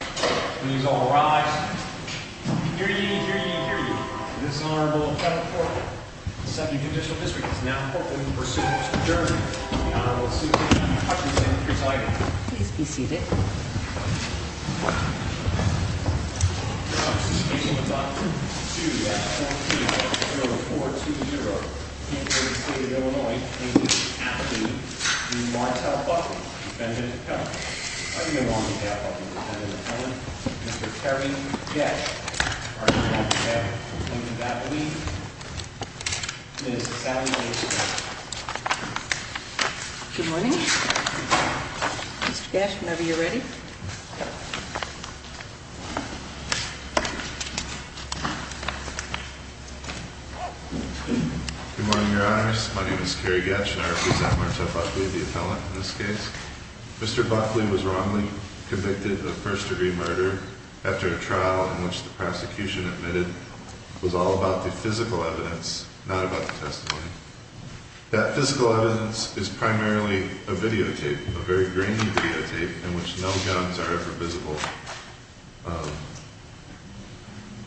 Please all rise. I can hear you, I can hear you, I can hear you. This is the Honorable Kevin Porter. The Second Judicial District is now in court in pursuit of his adjournment. The Honorable Susan Hutchinson presiding. Please be seated. The Honorable Susan Hutchinson is on 2-F-1-2-0-4-2-0 in the state of Illinois and is acting in line to help Buckley defend his appellant. I'm going to go on behalf of the defendant's appellant, Mr. Terry Getsch. Our next appellant coming to battle me is Sally Getsch. Good morning. Mr. Getsch, whenever you're ready. Good morning, Your Honors. My name is Terry Getsch and I represent Martel Buckley, the appellant in this case. Mr. Buckley was wrongly convicted of first-degree murder after a trial in which the prosecution admitted it was all about the physical evidence, not about the testimony. That physical evidence is primarily a videotape, a very grainy videotape in which no guns are ever visible.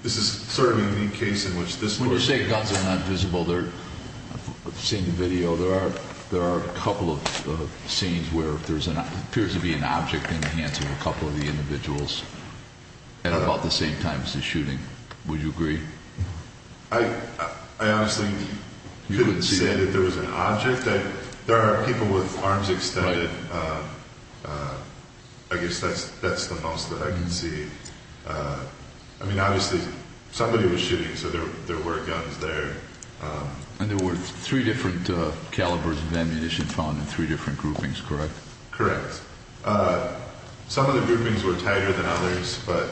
This is sort of a unique case in which this court... When you say guns are not visible, I've seen the video, there are a couple of scenes where there appears to be an object in the hands of a couple of the individuals at about the same time as the shooting. Would you agree? I honestly couldn't say that there was an object. There are people with arms extended. I guess that's the most that I can see. I mean, obviously, somebody was shooting so there were guns there. And there were three different calibers of ammunition found in three different groupings, correct? Correct. Some of the groupings were tighter than others, but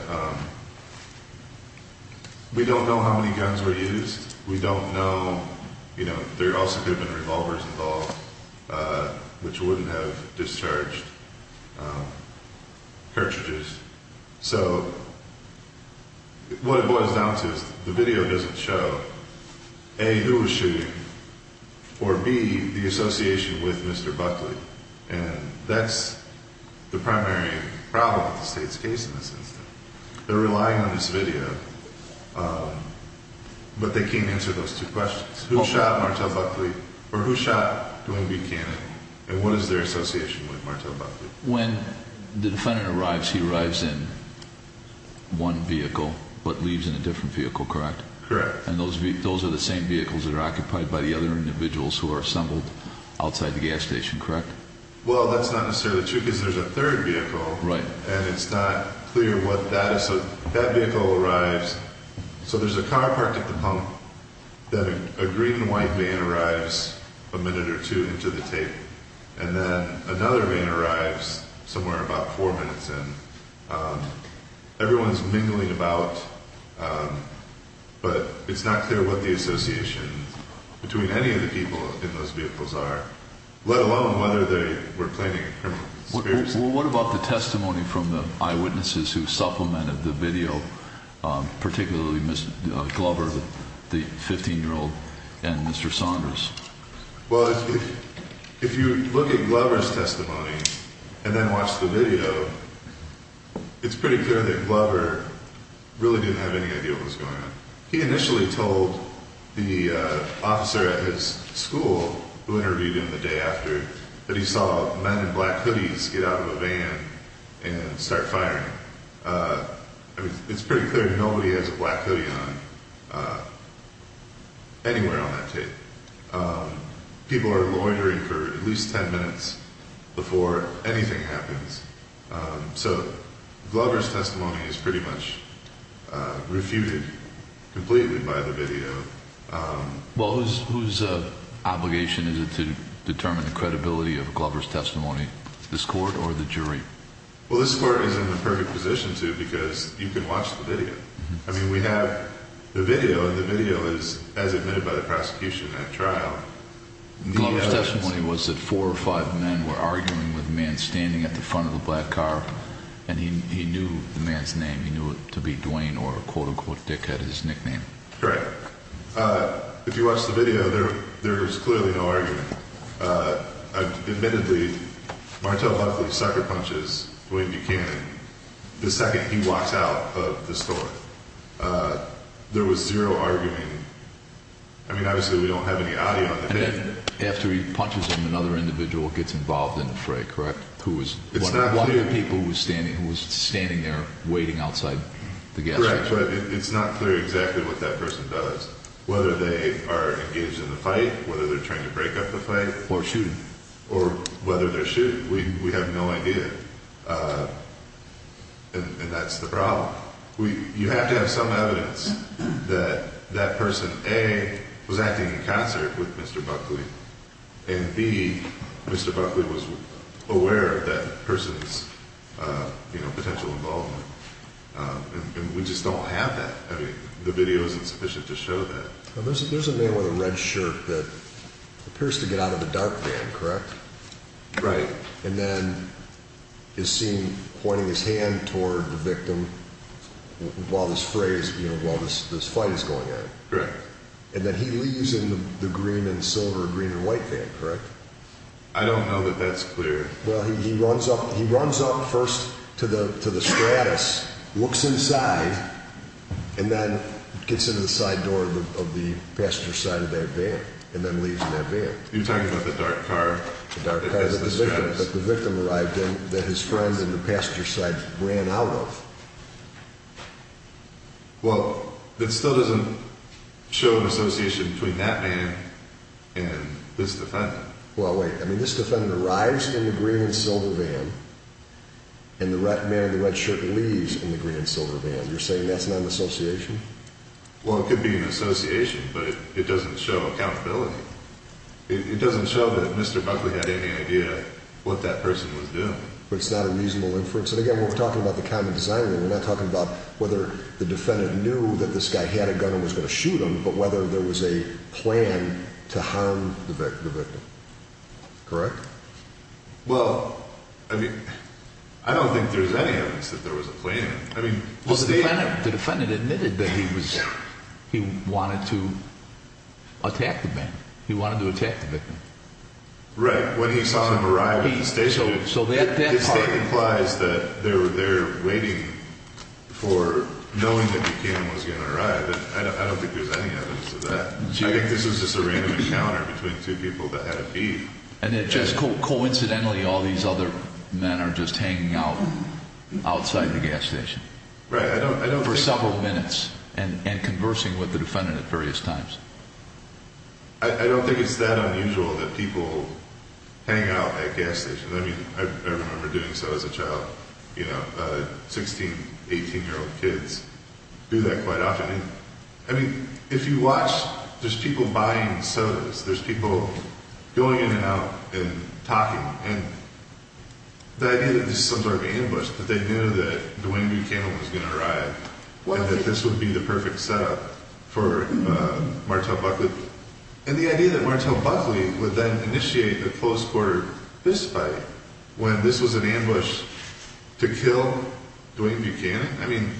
we don't know how many guns were used. We don't know... There also could have been revolvers involved which wouldn't have discharged cartridges. So what it boils down to is the video doesn't show A. who was shooting or B. the association with Mr. Buckley. And that's the primary problem with the State's case in this instance. They're relying on this video but they can't answer those two questions. Who shot Martel Buckley? Or who shot Dwayne Buchanan? And what is their association with Martel Buckley? When the defendant arrives, he arrives in one vehicle but leaves in a different vehicle, correct? Correct. And those are the same vehicles that are occupied by the other individuals who are assembled outside the gas station, correct? Well, that's not necessarily true because there's a third vehicle and it's not clear what that is. So that vehicle arrives... So there's a car parked at the pump then a green and white van arrives a minute or two into the tape and then another van arrives somewhere about four minutes in. Everyone's mingling about but it's not clear what the association between any of the people in those vehicles are let alone whether they were planning a criminal conspiracy. Well, what about the testimony from the eyewitnesses who supplemented the video particularly Mr. Glover, the 15-year-old, and Mr. Saunders? Well, if you look at Glover's testimony and then watch the video, it's pretty clear that Glover really didn't have any idea what was going on. He initially told the officer at his school, who interviewed him the day after, that he saw men in black hoodies get out of a van and start firing. It's pretty clear nobody has a black hoodie on anywhere on that tape. People are loitering for at least 10 minutes before anything happens. So Glover's testimony is pretty much refuted completely by the video. Well, whose obligation is it to determine the credibility of Glover's testimony? This court or the jury? Well, this court is in the perfect position to because you can watch the video. The video is as admitted by the prosecution at trial. Glover's testimony was that four or five men were arguing with a man standing at the front of the black car and he knew the man's name. He knew it to be Dwayne or quote-unquote Dickhead is his nickname. Correct. If you watch the video, there is clearly no argument. Admittedly, Martel Huxley sucker punches William Buchanan the second he walks out of the store. There was zero arguing. I mean, obviously we don't have any audio. After he punches him, another individual gets involved in the fray, correct? One of the people who was standing there waiting outside the gas station. It's not clear exactly what that person does. Whether they are engaged in the fight, whether they're trying to break up the fight, or whether they're shooting. We have no idea. And that's the problem. You have to have some evidence that that person, A, was acting in concert with Mr. Buckley and B, Mr. Buckley was aware of that person's potential involvement. We just don't have that. The video isn't sufficient to show that. There's a man with a red shirt that appears to get out of the dark van, correct? Right. And then is seen throwing his hand toward the victim while this fray is, you know, while this fight is going on. And then he leaves in the green and silver, green and white van, correct? I don't know that that's clear. Well, he runs up first to the stratus, looks inside, and then gets into the side door of the passenger side of that van, and then leaves in that van. You're talking about the dark car that the victim arrived in that his friends in the passenger side ran out of. Well, it still doesn't show an association between that van and this defendant. Well, wait. I mean, this defendant arrives in the green and silver van and the man in the red shirt leaves in the green and silver van. You're saying that's not an association? Well, it could be an association, but it doesn't show accountability. It doesn't show that Mr. Buckley had any idea what that person was doing. But it's not a reasonable inference? And again, we're talking about the common design here. We're not talking about whether the defendant knew that this guy had a gun and was going to shoot him, but whether there was a plan to harm the victim. Correct? Well, I mean, I don't think there's any evidence that there was a plan. I mean, the state... The defendant admitted that he wanted to attack the man. He wanted to attack the victim. Right. When he saw him arrive at the station, the state implies that they're waiting for knowing that Buchanan was going to arrive. I don't think there's any evidence of that. I think this was just a random encounter between two people that had a beef. And it just coincidentally, all these other men are just hanging out outside the gas station for several minutes and conversing with the defendant at various times. I don't think it's that unusual that people hang out at gas stations. I mean, I remember doing so as a child. You know, 16, 18-year-old kids do that quite often. I mean, if you watch, there's people buying sodas. There's people going in and out and talking. And the idea that this is some sort of ambush, but they knew that Dwayne Buchanan was going to arrive and that this would be the perfect setup for Martel Buckley. And the idea that Martel Buckley would then initiate a close quarter fist fight when this was an ambush to kill Dwayne Buchanan? I mean,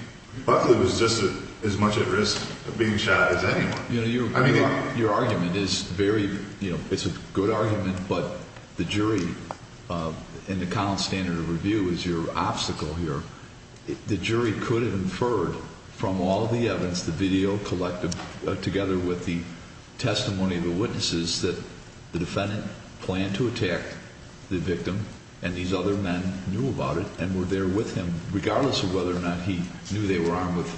Buckley was just as much at risk of being shot as anyone. You know, your argument is very, you know, it's a good argument, but the jury in the Connell Standard of Review is your obstacle here. The jury could have inferred from all the evidence, the video collected together with the testimony of the witnesses, that the defendant planned to attack the victim, and these other men knew about it and were there with him, regardless of whether or not he knew they were armed with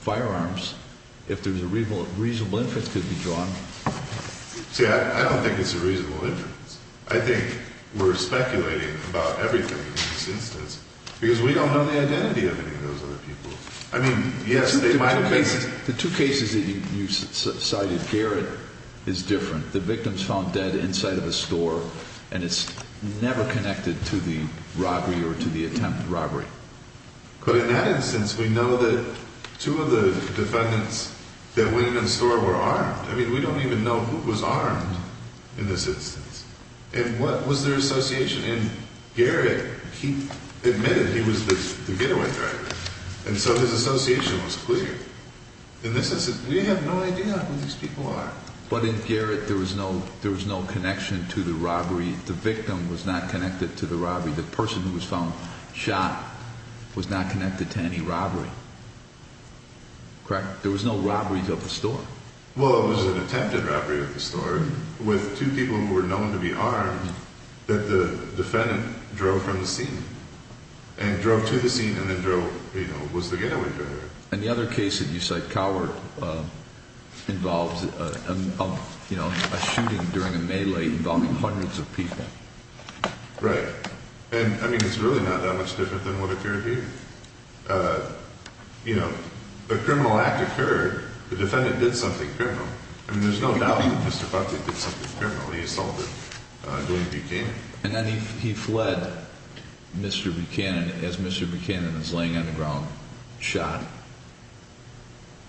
firearms. If there's a reasonable inference could be drawn. See, I don't think it's a reasonable inference. I think we're speculating about everything in this instance because we don't know the identity of any of those other people. The two cases that you cited, Garrett, is different. The victim's found dead inside of a store, and it's never connected to the robbery or to the attempt at robbery. But in that instance, we know that two of the defendants that went into the store were armed. I mean, we don't even know who was armed in this instance. And what was their association? And Garrett, he was the getaway driver. And so his association was clear. In this instance, we have no idea who these people are. But in Garrett, there was no connection to the robbery. The victim was not connected to the robbery. The person who was found shot was not connected to any robbery. Correct? There was no robbery of the store. Well, it was an attempted robbery of the store with two people who were known to be armed that the defendant drove from the scene and drove to the scene and then drove, you know, was the getaway driver. And the other case that you cite, Coward, involves, you know, a shooting during a melee involving hundreds of people. Right. And, I mean, it's really not that much different than what occurred here. You know, a criminal act occurred. The defendant did something criminal. I mean, there's no doubt that Mr. Buckley did something criminal. He assaulted Dwayne Buchanan. And then he fled Mr. Buchanan as Mr. Buchanan is laying on the ground, shot.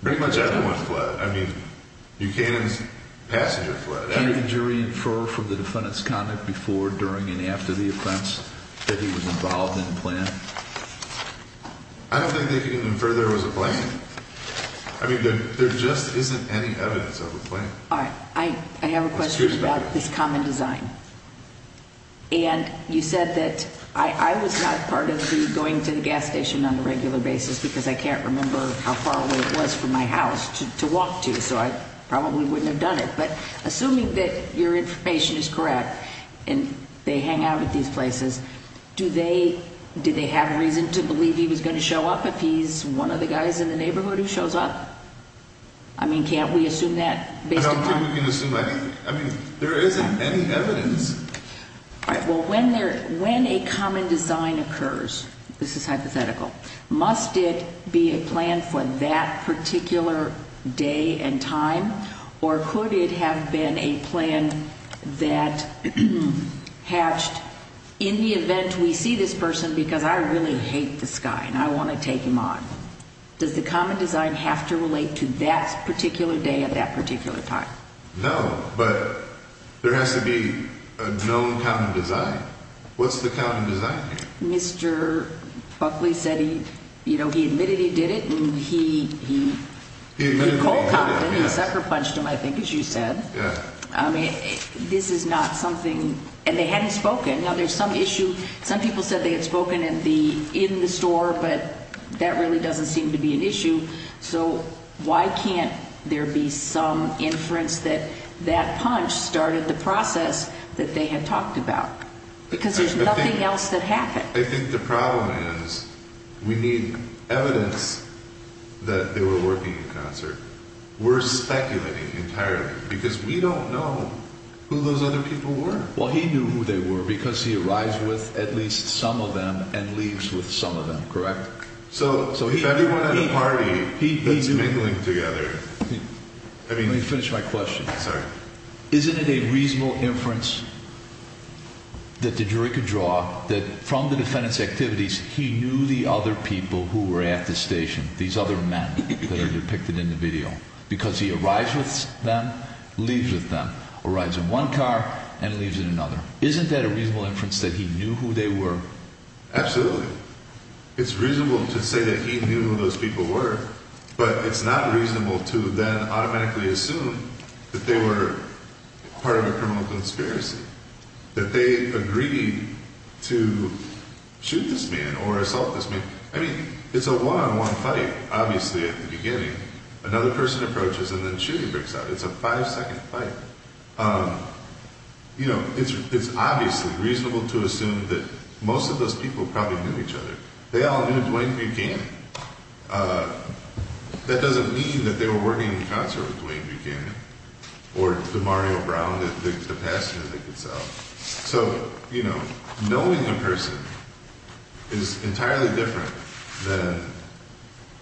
Pretty much everyone fled. I mean, Buchanan's passenger fled. Can the jury infer from the defendant's conduct before, during, and after the offense that he was involved in the plan? I don't think they can infer there was a plan. I mean, there just isn't any evidence of a plan. All right. I have a question about this common design. And you said that I was not part of the going to the gas station on a regular basis because I can't remember how far away it was from my house to walk to, so I probably wouldn't have done it. But, assuming that your information is correct and they hang out at these places, do they have reason to believe he was going to show up if he's one of the guys in the neighborhood who shows up? I mean, can't we assume that based upon I mean, there isn't any evidence. All right. Well, when a common design occurs, this is hypothetical, must it be a plan for that particular day and time? Or could it have been a plan that hatched in the event we see this person because I really hate this guy and I want to take him on? Does the common design have to relate to that particular day at that particular time? No, but there has to be a known common design. What's the common design here? Mr. Buckley said he admitted he did it and he called Compton and sucker punched him, I think, as you said. This is not something and they hadn't spoken. Now, there's some issue some people said they had spoken in the store, but that really doesn't seem to be an issue. So, why can't there be some inference that that punch started the process that they had talked about? Because there's nothing else that happened. I think the problem is we need evidence that they were working in concert. We're speculating entirely because we don't know who those other people were. Well, he knew who they were because he arrives with at least some of them and leaves with some of them, correct? So, if everyone at a party is mingling together... Let me finish my question. Sorry. Isn't it a reasonable inference that the jury could draw that from the defendant's activities he knew the other people who were at the station, these other men that are depicted in the video, because he arrives with them, leaves with them, arrives in one car, and leaves in another. Isn't that a reasonable inference that he knew who they were? Absolutely. It's reasonable to say that he knew who those people were, but it's not reasonable to then automatically assume that they were part of a criminal conspiracy. That they agreed to shoot this man or assault this man. I mean, it's a one-on-one fight, obviously, at the beginning. Another person approaches and then shooting breaks out. It's a five-second fight. You know, it's obviously reasonable to assume that most of those people probably knew each other. They all knew Dwayne Buchanan. That doesn't mean that they were working in concert with Dwayne Buchanan or DeMario Brown, the passenger they could sell. So, you know, knowing a person is entirely different than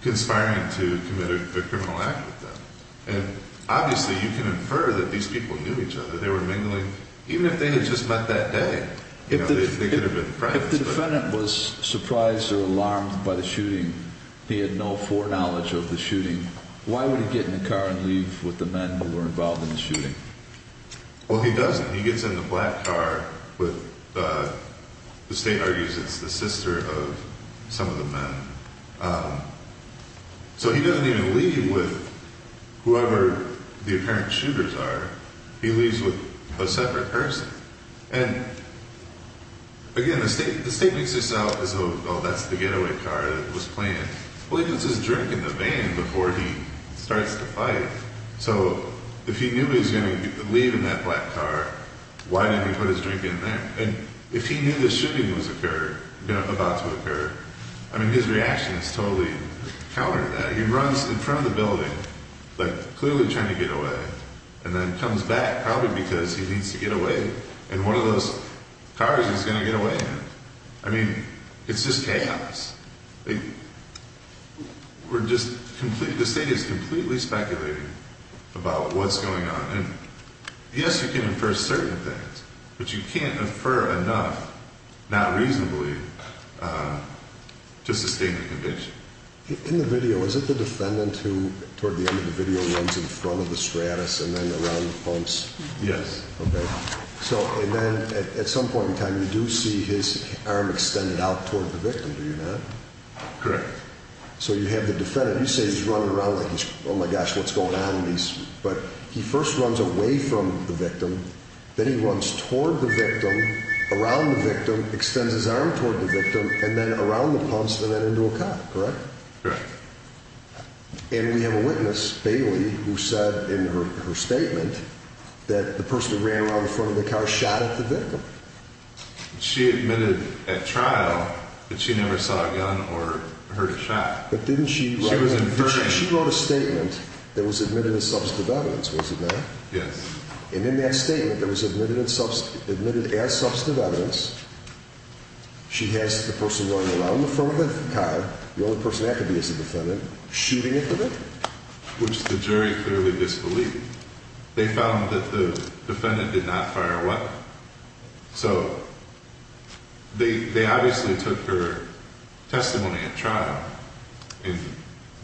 conspiring to commit a criminal act with them. And, obviously, you can infer that these people knew each other. They were mingling even if they had just met that day. They could have been friends. If the defendant was surprised or alarmed by the shooting, he had no foreknowledge of the shooting, why would he get in the car and leave with the men who were involved in the shooting? Well, he doesn't. He gets in the black car with the state argues it's the sister of some of the men. So, he doesn't even leave with whoever the apparent shooters are. He leaves with a separate person. And, again, the state makes this out as though, oh, that's the getaway car that was playing. Well, he puts his drink in the van before he starts to fight. So, if he knew he was going to leave in that black car, why didn't he put his drink in there? And, if he knew the shooting was about to occur, I mean, his reaction is totally counter to that. He runs in front of the building, like, clearly trying to get away, and then comes back, probably because he needs to get away in one of those cars he's going to get away in. I mean, it's just chaos. The state is completely speculating about what's going on. And, yes, you can infer certain things, but you can't reasonably, to sustain the conviction. In the video, is it the defendant who, toward the end of the video, runs in front of the Stratus and then around the pumps? Yes. Okay. So, and then, at some point in time, you do see his arm extended out toward the victim, do you not? Correct. So, you have the defendant, you say he's running around like he's, oh my gosh, what's going on? But, he first runs away from the victim, then he runs toward the victim, around the victim, extends his arm toward the victim, and then around the pumps, and then into a car, correct? Correct. And we have a witness, Bailey, who said in her statement that the person who ran around in front of the car shot at the victim. She admitted at trial that she never saw a gun or heard a shot. But didn't she She was inferring. She wrote a statement that was admitted as substantive evidence, was it not? Yes. And in that statement that was admitted as substantive evidence, she has the person running around in front of the car, the only person that could be as a defendant, shooting at the victim. Which the jury clearly disbelieved. They found that the defendant did not fire a weapon. So, they obviously took her testimony at trial and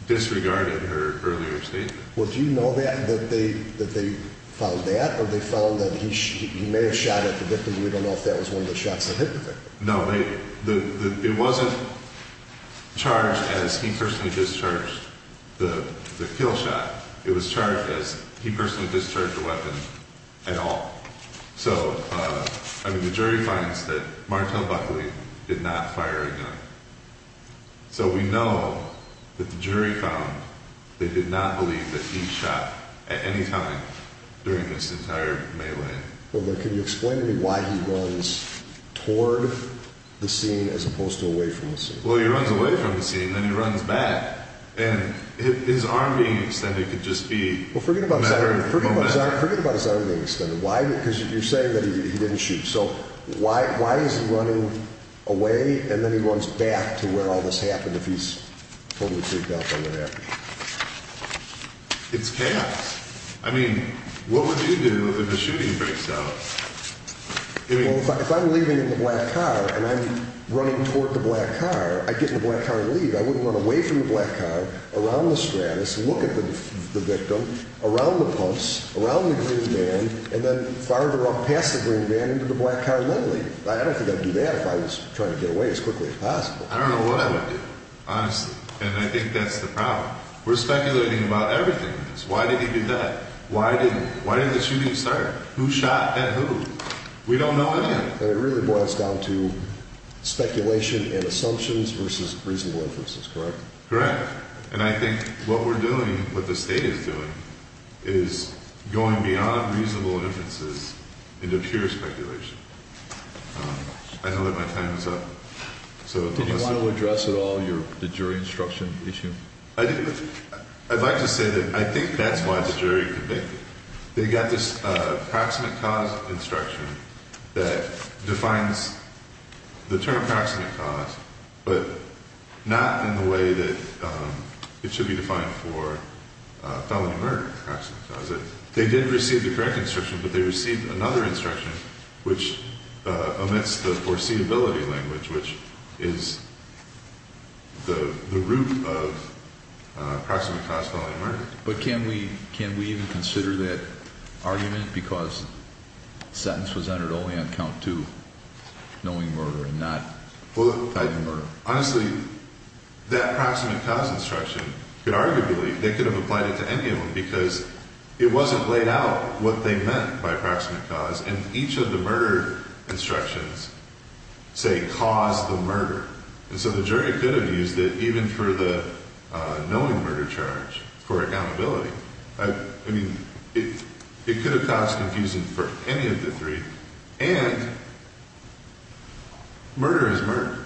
disregarded her earlier statement. Well, do you know that they found that, or they found that he may have shot at the victim, we don't know if that was one of the shots that hit the victim. No, it wasn't charged as he personally discharged the kill shot. It was charged as he personally discharged the weapon at all. So, I mean, the jury finds that Martel Buckley did not fire a gun. So we know that the jury found they did not believe that he shot at any time during this entire melee. Well, can you explain to me why he runs toward the scene as opposed to away from the scene? Well, he runs away from the scene and then he runs back. And his arm being extended could just be a matter of momentum. Well, forget about his arm being extended. Why? Because you're saying that he didn't shoot. So, why is he running away and then he runs back to where all this happened if he's totally freaked out by what happened? It's chaos. I mean, what would you do if a shooting breaks out? Well, if I'm leaving in the black car and I'm running toward the black car, I get in the black car and leave. I wouldn't run away from the black car, around the Stratus, look at the victim, around the pumps, around the green van, and then farther up past the green van into the black car and then leave. I don't think I'd do that if I was trying to get away as quickly as possible. I don't know what I would do, honestly. And I think that's the problem. We're speculating about everything in this. Why did he do that? Why didn't the shooting start? Who shot at who? We don't know anything. And it really boils down to speculation and assumptions versus reasonable inferences, correct? Correct. And I think what we're doing, what the state is doing, is going beyond reasonable inferences into pure speculation. I know that my time is up. Did you want to address at all the jury instruction issue? I'd like to say that I think that's why the jury convicted. They got this proximate cause instruction that defines the term proximate cause but not in the way that it should be defined for felony murder. They did receive the correct instruction, but they received another instruction which omits the foreseeability language which is the root of knowing murder. But can we even consider that argument because the sentence was entered only on count two knowing murder and not fully tied to murder? Honestly, that proximate cause instruction could arguably, they could have applied it to any of them because it wasn't laid out what they meant by proximate cause. And each of the murder instructions say cause the murder. And so the jury could have used it even for the knowing murder charge for accountability. I mean, it could have caused confusion for any of the three. And murder is murder.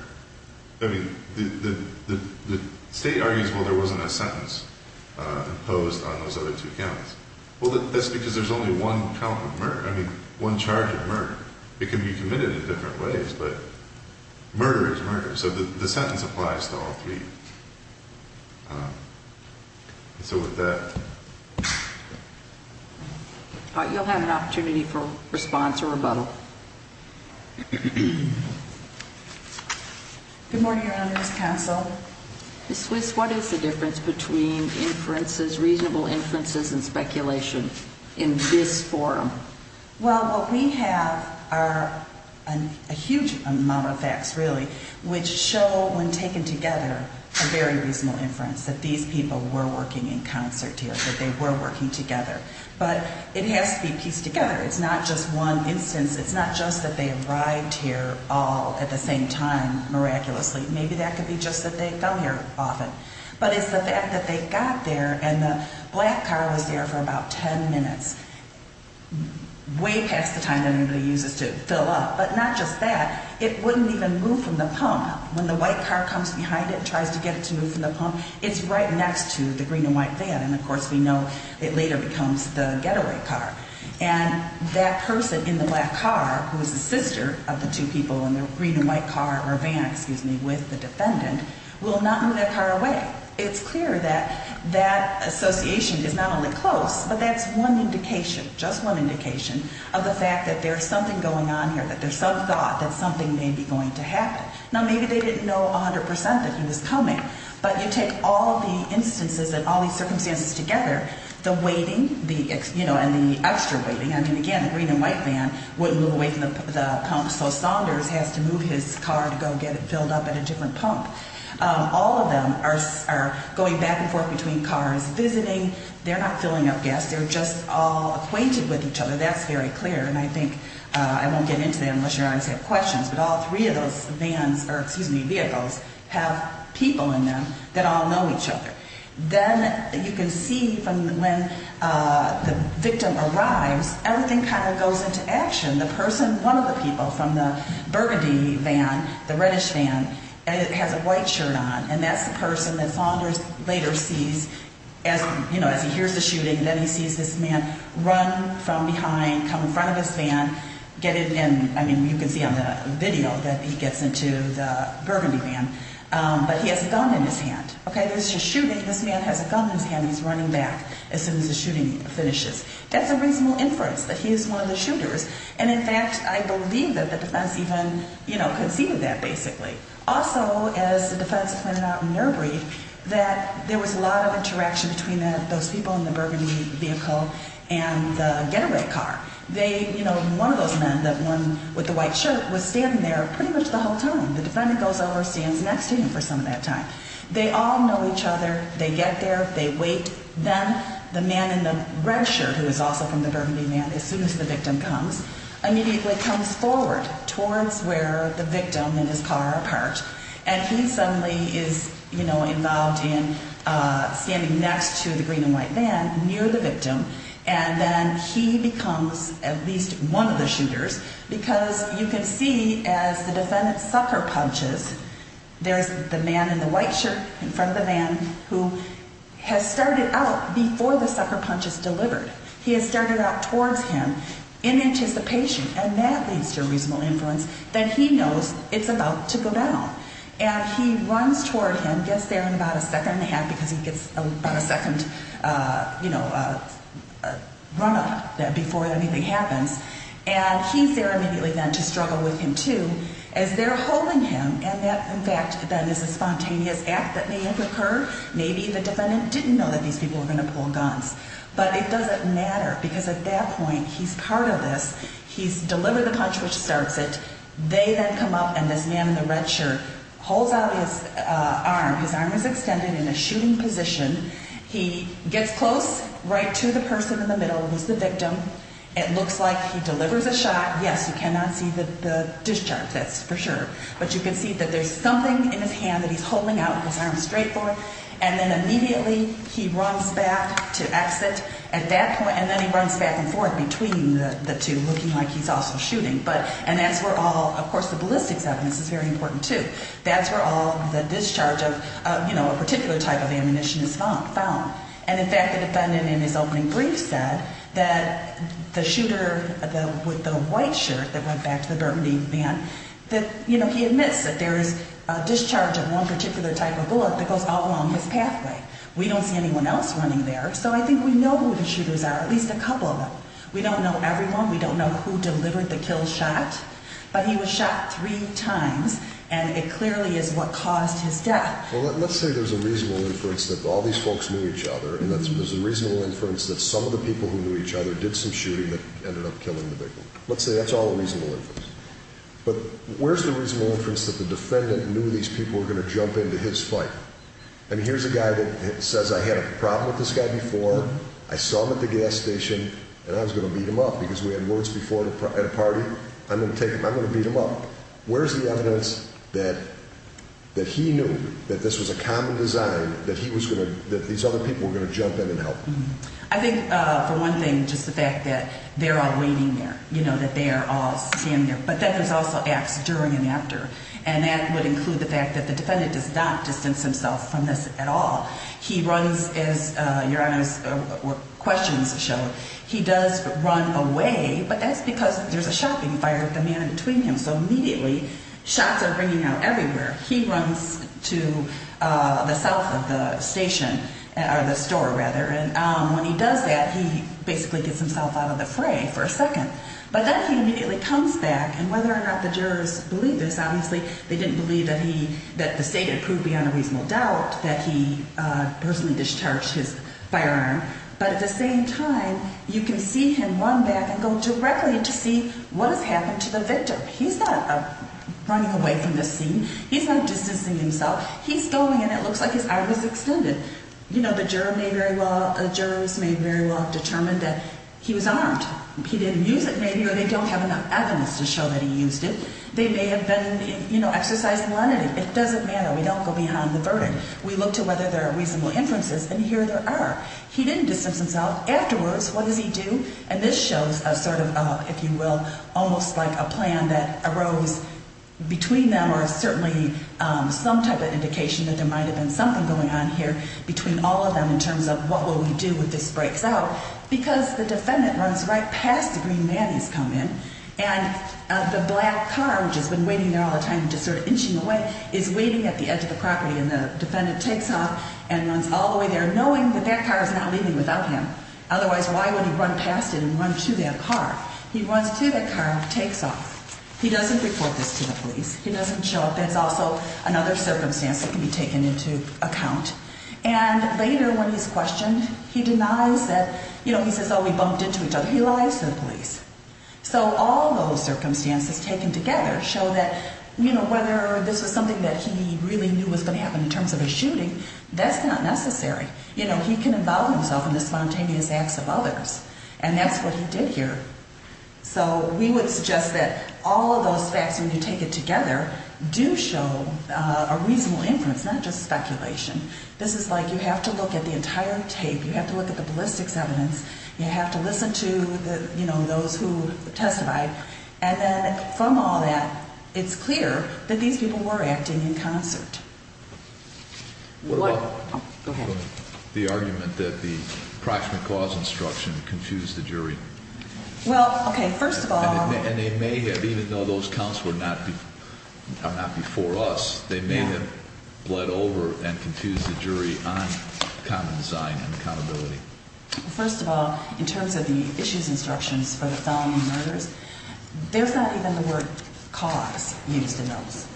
I mean, the state argues, well, there wasn't a sentence imposed on those other two counts. Well, that's because there's only one count of murder, I mean, one charge of murder. It can be committed in different ways, but murder is murder. So the sentence applies to all three. And so with that... You'll have an opportunity for response or rebuttal. Good morning, Your Honor. Ms. Castle. Ms. Swiss, what is the difference between inferences, reasonable inferences and speculation in this forum? Well, what we have are a huge amount of facts, really, which show when taken together a very reasonable inference that these people were working in concert here, that they were working together. But it has to be pieced together. It's not just one instance. It's not just that they arrived here all at the same time, miraculously. Maybe that could be just that they come here often. But it's the fact that they got there and the black car was there for about ten minutes. Way past the time that everybody uses to fill up. But not just that. It wouldn't even move from the pump. When the white car comes behind it and tries to get it to move from the pump, it's right next to the green and white van. And of course we know it later becomes the getaway car. And that person in the black car, who is the sister of the two people in the green and white car, or van, excuse me, with the defendant, will not move that car away. It's clear that that association is not only close, but that's one indication, just one indication, of the fact that there's something going on here, that there's some thought that something may be going to happen. Now maybe they didn't know 100% that he was coming. But you take all the instances and all these circumstances together, the waiting, and the extra waiting. I mean, again, the green and white van wouldn't move away from the pump, so Saunders has to move his car to go get it filled up at a different pump. All of them are going back and forth between cars, visiting. They're not acquainted with each other. That's very clear. And I think, I won't get into that unless your audience has questions, but all three of those vans, or excuse me, vehicles, have people in them that all know each other. Then you can see from when the victim arrives, everything kind of goes into action. The person, one of the people from the burgundy van, the reddish van, has a white shirt on, and that's the person that Saunders later sees as, you know, as he hears the shooting, then he sees this man run from behind, come in front of his van, get in, and I mean, you can see on the video that he gets into the burgundy van, but he has a gun in his hand. There's a shooting. This man has a gun in his hand and he's running back as soon as the shooting finishes. That's a reasonable inference that he is one of the shooters, and in fact, I believe that the defense even conceived that, basically. Also, as the defense pointed out in their brief, that there was a lot of interaction between those people in the burgundy vehicle and the getaway car. They, you know, one of those men, the one with the white shirt, was standing there pretty much the whole time. The defendant goes over, stands next to him for some of that time. They all know each other. They get there. They wait. Then the man in the red shirt, who is also from the burgundy van, as soon as the victim comes, immediately comes forward towards where the victim and his car are parked, and he suddenly is, you know, involved in standing next to the green and white van near the victim, and then he becomes at least one of the shooters, because you can see as the defendant sucker punches, there's the man in the white shirt in front of the man who has started out before the sucker punch is delivered. He has started out towards him in anticipation, and that leads to a reasonable inference that he knows it's about to go down. And he runs toward him, gets there in about a second and a half, because he gets about a second, you know, run up before anything happens, and he's there immediately then to struggle with him, too, as they're holding him, and that, in fact, then is a spontaneous act that may have occurred. Maybe the defendant didn't know that these people were going to pull guns, but it doesn't matter, because at that point he's part of this. He's delivered the punch, which starts it. They then come up, and this man in the red shirt holds out his arm. His arm is extended in a shooting position. He gets close right to the person in the middle, who's the victim. It looks like he delivers a shot. Yes, you cannot see the discharge, that's for sure, but you can see that there's something in his hand that he's holding out with his arm straight for, and then immediately he runs back to exit at that point, and then he runs back and forth between the two, looking like he's also shooting, but, and that's where all, of course, the ballistics evidence is very important, too. That's where all the discharge of, you know, a particular type of ammunition is found. And, in fact, the defendant in his opening brief said that the shooter with the white shirt that went back to the Burmese man, that, you know, he admits that there is a discharge of one particular type of bullet that goes all along this pathway. We don't see anyone else running there, so I think we know who the shooters are, at least a couple of them. We don't know everyone, we don't know who delivered the kill shot, but he was shot three times, and it clearly is what caused his death. Well, let's say there's a reasonable inference that all these folks knew each other, and there's a reasonable inference that some of the people who knew each other did some shooting that ended up killing the victim. Let's say that's all a reasonable inference. But where's the reasonable inference that the defendant knew these people were going to jump into his fight? I mean, here's a guy that says, I had a problem with this guy before, I saw him at the gas station, and I was going to beat him up because we had words before at a party, I'm going to take him, I'm going to beat him up. Where's the evidence that he knew that this was a common design that he was going to, that these other people were going to jump in and help? I think for one thing, just the fact that they're all waiting there, you know, that they are all standing there. But then there's also acts during and after, and that would include the fact that the defendant does not distance himself from this at all. He does run away, but that's because there's a shopping fire with a man in between him, so immediately shots are ringing out everywhere. He runs to the south of the station, or the store rather, and when he does that, he basically gets himself out of the fray for a second. But then he immediately comes back, and whether or not the jurors believe this, obviously they didn't believe that he, that the state had proved beyond a reasonable doubt that he personally discharged his firearm But at the same time, you can see him run back and go directly to see what has happened to the victim. He's not running away from this scene. He's not distancing himself. He's going, and it looks like his arm is extended. You know, the juror may very well, jurors may very well have determined that he was armed. He didn't use it, maybe, or they don't have enough evidence to show that he used it. They may have been, you know, exercising leniency. It doesn't matter. We don't go beyond the verdict. We look to whether there are reasonable inferences, and here there are. He didn't distance himself. Afterwards, what does he do? And this shows a sort of, if you will, almost like a plan that arose between them, or certainly some type of indication that there might have been something going on here between all of them in terms of what will we do if this breaks out? Because the defendant runs right past the green van he's come in, and the black car, which has been waiting there all the time, just sort of inching away, is waiting at the edge of the property, and the black car is not leaving without him. Otherwise, why would he run past it and run to that car? He runs to that car, takes off. He doesn't report this to the police. He doesn't show up. That's also another circumstance that can be taken into account. And later, when he's questioned, he denies that, you know, he says, oh, we bumped into each other. He lies to the police. So all those circumstances taken together show that, you know, whether this was something that he really knew was going to happen in terms of a shooting, that's not necessary. You know, he can involve himself in the spontaneous acts of others, and that's what he did here. So we would suggest that all of those facts when you take it together do show a reasonable inference, not just speculation. This is like you have to look at the entire tape. You have to look at the ballistics evidence. You have to listen to, you know, those who testified. And then from all that, it's clear that these people were acting in concert. What about the argument that the proximate cause instruction confused the jury? Well, okay, first of all... And they may have, even though those counts were not before us, they may have bled over and confused the jury on common design and accountability. First of all, in terms of the issues instructions for the felony murders, there's not even the word cause used in those.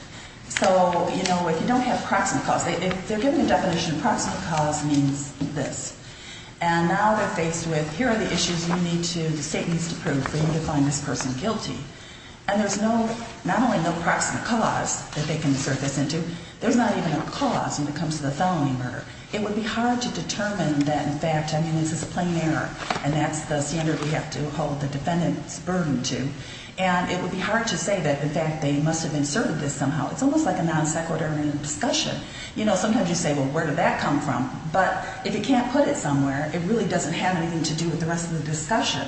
So, you know, if you don't have proximate cause, if they're given a definition of proximate cause means this. And now they're faced with here are the issues you need to, the state needs to prove for you to find this person guilty. And there's no, not only no proximate cause that they can insert this into, there's not even a cause when it comes to the felony murder. It would be hard to determine that, in fact, I mean, this is a plain error, and that's the standard we have to hold the defendant's burden to. And it would be hard to say that, in fact, they must have inserted this somehow. It's almost like a non-sequitur in a discussion. You know, sometimes you say, well, where did that come from? But if you can't put it somewhere, it really doesn't have anything to do with the rest of the discussion.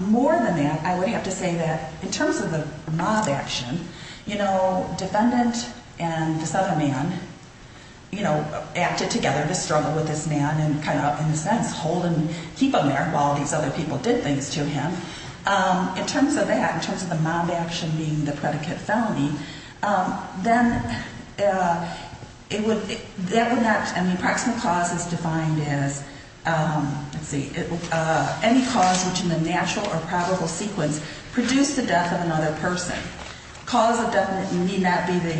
More than that, I would have to say that in terms of the mob action, you know, defendant and this other man, you know, acted together to struggle with this man and kind of, in a sense, hold and keep him there while these other people did things to him. In terms of that, in terms of the mob action being the predicate felony, then it would, that would not, I mean, proximate cause is defined as, let's see, any cause which in the natural or probable sequence produced the death of another person. Cause of death may not be the,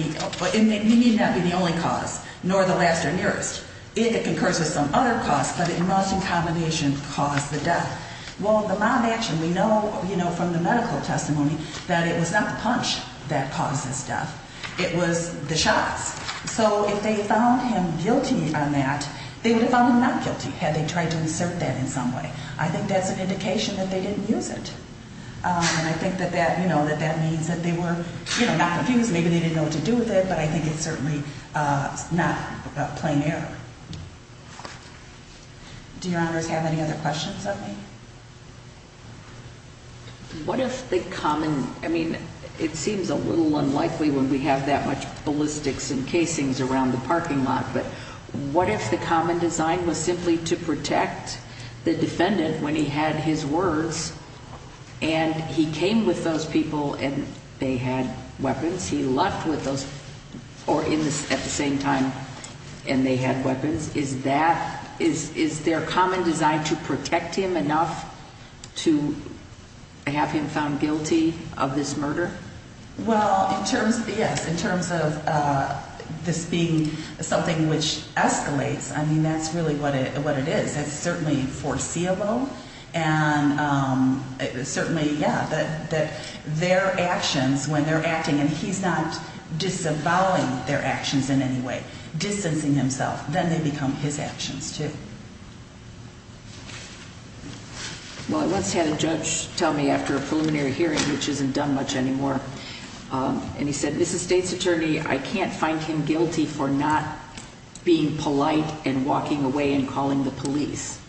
it may not be the only cause, nor the last or nearest. It occurs with some other cause, but it must in combination cause the death. Well, the mob action, we know, you know, from the medical testimony, that it was not the punch that caused his death, it was the shots. So if they found him guilty on that, they would have found him not guilty had they tried to insert that in some way. I think that's an indication that they didn't use it. And I think that that, you know, that that means that they were, you know, not confused. Maybe they didn't know what to do with it, but I think it's certainly not a plain error. Do your honors have any other questions of me? What if the common, I mean, it seems a little unlikely when we have that much ballistics and casings around the parking lot, but what if the common design was simply to protect the defendant when he had his words, and he came with those people and they had weapons, he left with those, or at the same time, and they had weapons, is that, is their common design to protect him enough to have him found guilty of this murder? Well, in terms, yes, in terms of this being something which escalates, I mean, that's really what it is. It's certainly foreseeable and certainly, yeah, that their actions when they're acting and he's not disavowing their actions in any way, distancing himself, then they become his actions too. Well, I once had a judge tell me after a preliminary hearing, which isn't done much anymore, and he said, Mrs. State's Attorney, I can't find him guilty for not being polite and walking away and calling the police.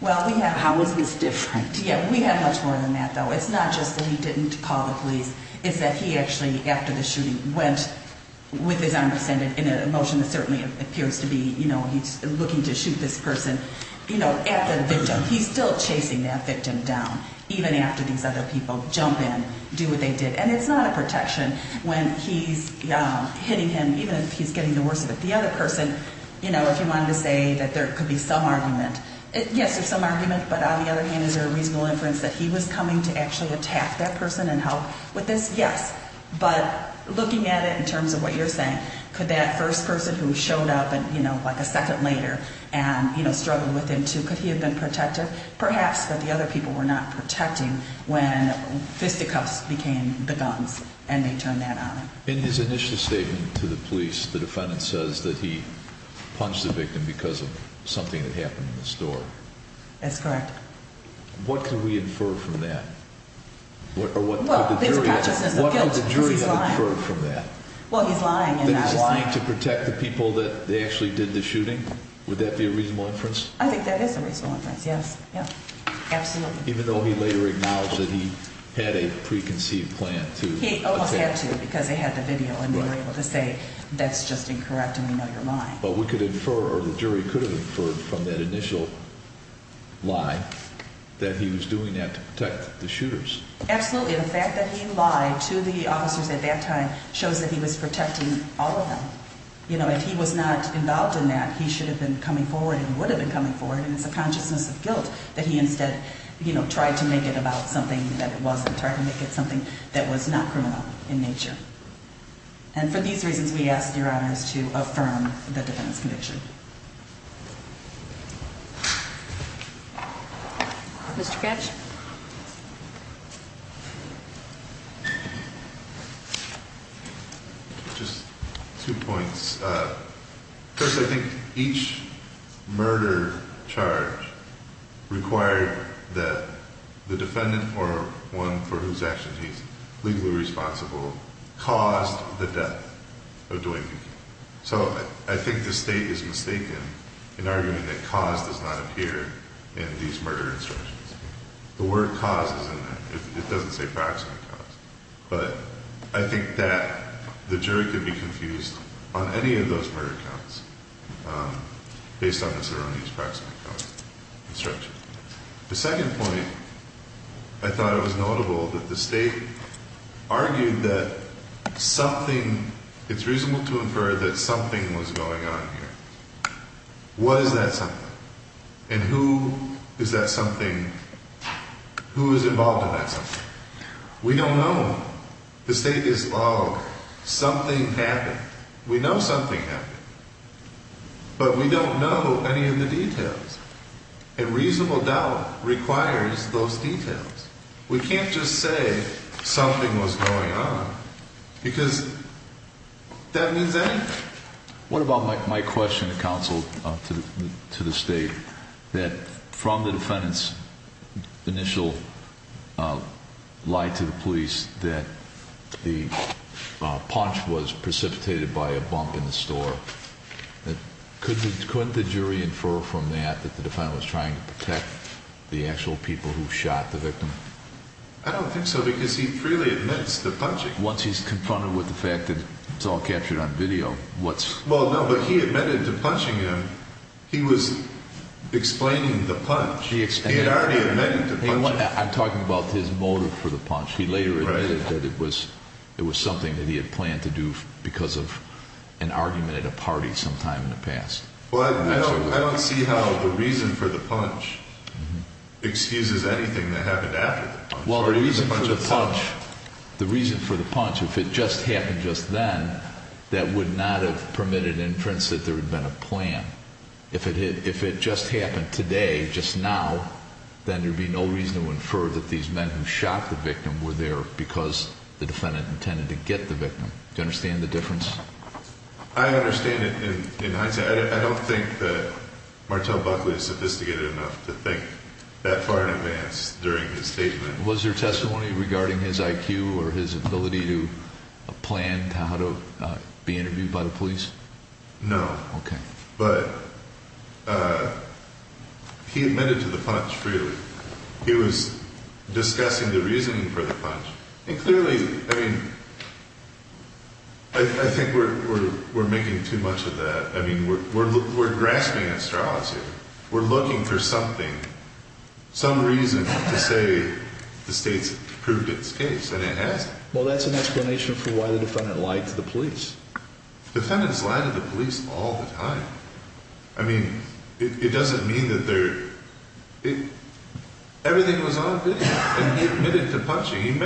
How is this different? Yeah, we have much more than that, though. It's not just that he didn't call the police, it's that he actually, after the shooting, went with his arm extended in a motion that certainly appears to be, you know, he's looking to shoot this person, you know, at the victim. He's still chasing that victim down, even after these other people jump in, do what they did. And it's not a protection when he's hitting him, even if he's getting the worst of it. The other person, you know, if you wanted to say that there could be some argument, yes, there's some argument, but on the other hand, is there a reasonable inference that he was coming to actually attack that person and help with this? Yes. But looking at it in terms of what you're saying, could that first person who showed up, you know, like a second later and, you know, struggled with him too, could he have been protective? Perhaps, but the other people were not protecting when fisticuffs became the guns and they turned that on him. In his initial statement to the police, the defendant says that he punched the victim because of something that happened in the store. That's correct. What can we infer from that? Well, there's a consciousness of guilt because he's lying. What can the jury infer from that? Well, he's lying and not lying. That he was trying to protect the people that they actually did the shooting? Would that be a reasonable inference? I think that is a reasonable inference, yes. Absolutely. Even though he later acknowledged that he had a preconceived plan to attack. He almost had to because they had the video and they were able to say, that's just incorrect and we know you're lying. But we could infer or the jury could have inferred from that initial lie that he was doing that to protect the shooters. Absolutely. The fact that he lied to the officers at that time shows that he was protecting all of them. You know, if he was not involved in that, he should have been coming forward and would have been coming forward and it's a consciousness of guilt that he instead, you know, tried to make it about something that it wasn't. Tried to make it something that was not criminal in nature. And for these reasons, we ask your honors to affirm the defendant's conviction. Mr. Katz? Just two points. First, I think each murder charge required that the defendant or one for whose actions he is legally responsible caused the death of Duane Peake. So, I think the state is mistaken in arguing that cause does not appear in these murder instructions. The word cause is in there. It doesn't say practical cause. But, I think that the jury could be confused on any of those murder counts based on Mr. Roney's practical instruction. The second point, I thought it was notable that the state argued that something it's reasonable to infer that something was going on here. Was that something? And who is that something? Who is involved in that something? We don't know. The state is, oh, something happened. We know something happened. But, we don't know any of the details. And reasonable doubt requires those details. We can't just say something was going on. Because that means anything. What about my question to counsel, to the state that from the defendant's initial lie to the police that the punch was precipitated by a bump in the store. Couldn't the jury infer from that that the defendant was trying to protect the actual people who shot the victim? I don't think so. Because he freely admits the punching. Once he's confronted with the fact that it's all captured on video. Well, no, but he admitted to punching him. He was explaining the punch. He had already admitted to punching. I'm talking about his motive for the punch. He later admitted that it was something that he had planned to do because of an argument at a party sometime in the past. I don't see how the reason for the punch excuses anything that happened after the punch. Well, the reason for the punch if it just happened just then that would not have permitted inference that there had been a plan. If it just happened today just now, then there would be no reason to infer that these men who shot the victim were there because the defendant intended to get the victim. Do you understand the difference? I understand it in hindsight. I don't think that Martel Buckley is sophisticated enough to think that far in advance during his statement. Was there testimony regarding his IQ or his ability to plan how to be interviewed by the police? No, but he admitted to the punch freely. He was discussing the reasoning for the punch. Clearly, I mean I think we're making too much of that. We're grasping astrology. We're looking for something. Some reason to say the state's proved its case and it hasn't. Well, that's an explanation for why the defendant lied to the police. Defendants lie to the police all the time. It doesn't mean that they're everything was on video. He admitted to punching.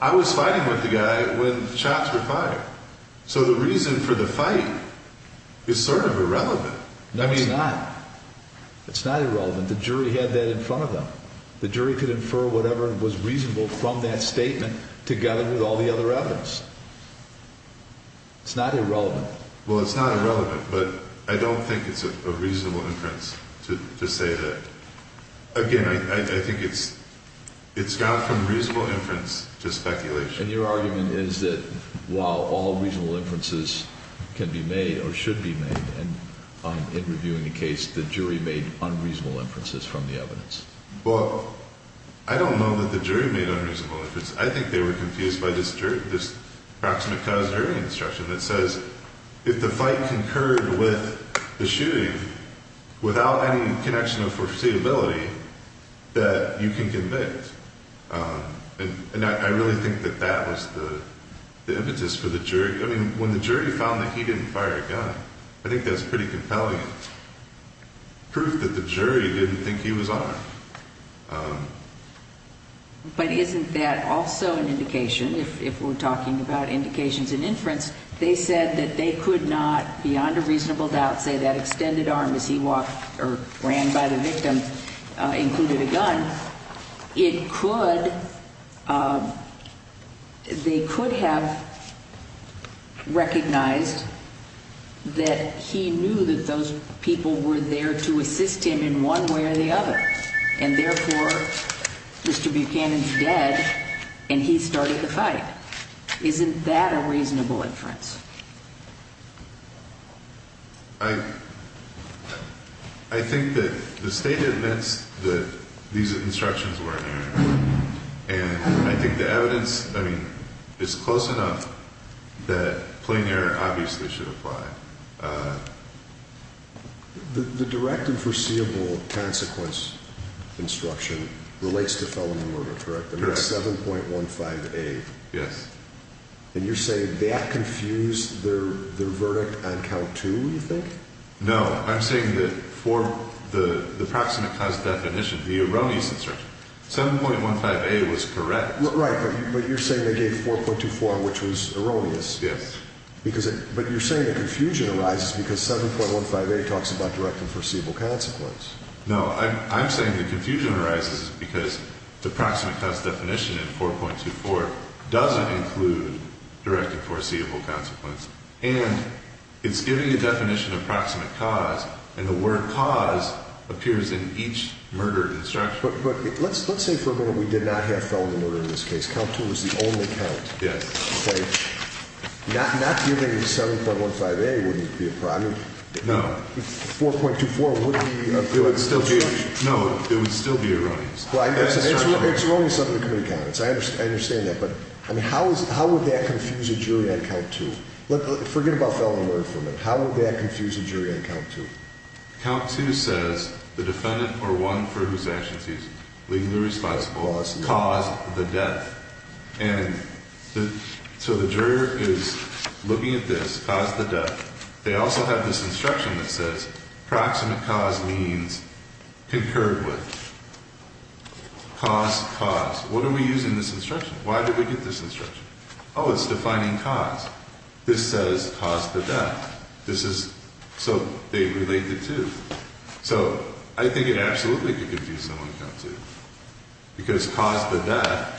I was fighting with the guy when shots were fired. So the reason for the fight is sort of irrelevant. No, it's not. It's not irrelevant. The jury had that in front of them. The jury could infer whatever was reasonable from that statement together with all the other evidence. It's not irrelevant. Well, it's not irrelevant but I don't think it's a reasonable inference to say that again, I think it's got from reasonable inference to speculation. And your argument is that while all reasonable inferences can be made or should be made in reviewing the case, the jury made unreasonable inferences from the evidence. Well, I don't know that the jury made unreasonable inferences. I think they were confused by this proximate cause jury instruction that says if the fight concurred with the shooting without any connection of foreseeability, that you can convict. And I really think that that was the impetus for the jury. I mean, when the jury found that he didn't fire a gun, I think that's pretty compelling proof that the jury didn't think he was armed. But isn't that also an indication if we're talking about indications in inference, they said that they could not beyond a reasonable doubt say that extended arm as he walked or ran by the victim included a gun. It could, they could have recognized that he knew that those people were there to assist him in one way or the other. And therefore, Mr. Buchanan's dead and he started the fight. Isn't that a reasonable inference? I think that the State admits that these instructions were inerrant. And I think the evidence, I mean, is close enough that plain error obviously should apply. The direct and foreseeable consequence instruction relates to felony murder, correct? 7.15a. Yes. And you're saying that confused their verdict on count two, you think? No, I'm saying that for the proximate cause definition, the erroneous instruction, 7.15a was correct. Right, but you're saying they gave 4.24, which was erroneous. Yes. But you're saying the confusion arises because 7.15a talks about direct and foreseeable consequence. No, I'm saying the confusion arises because the proximate cause definition in 4.24 doesn't include direct and foreseeable consequence. And it's giving a definition of proximate cause, and the word cause appears in each murder instruction. But let's say for a minute we did not have felony murder in this case. Count two was the only count. Yes. Okay. Not giving 7.15a wouldn't be a problem. No. 4.24 wouldn't be the instruction. No, it would still be erroneous. It's erroneous under the committee comments. I understand that, but how would that confuse a jury on count two? Forget about felony murder for a minute. How would that confuse a jury on count two? Count two says the defendant or one for whose actions he's legally responsible has caused the death. And so the juror is looking at this, caused the death. They also have this instruction that says proximate cause means concurred with. Cause, cause. What are we using this instruction? Why did we get this instruction? Oh, it's defining cause. This says caused the death. This is, so they relate the two. So I think it absolutely could confuse someone on count two. Because caused the death,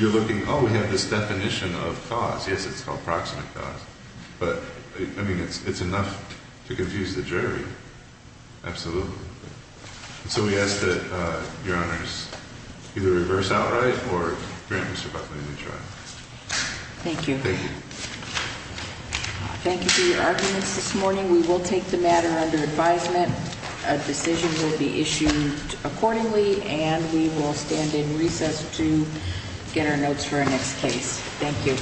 you're looking, oh, we have this definition of cause. Yes, it's called proximate cause. But, I mean, it's enough to confuse the jury. Absolutely. So we ask that Your Honors either reverse outright or grant Mr. Buckley a new trial. Thank you. Thank you. Thank you for your arguments this morning. We will take the matter under advisement. A decision will be issued accordingly and we will stand in recess to get our notes for our next case. Thank you.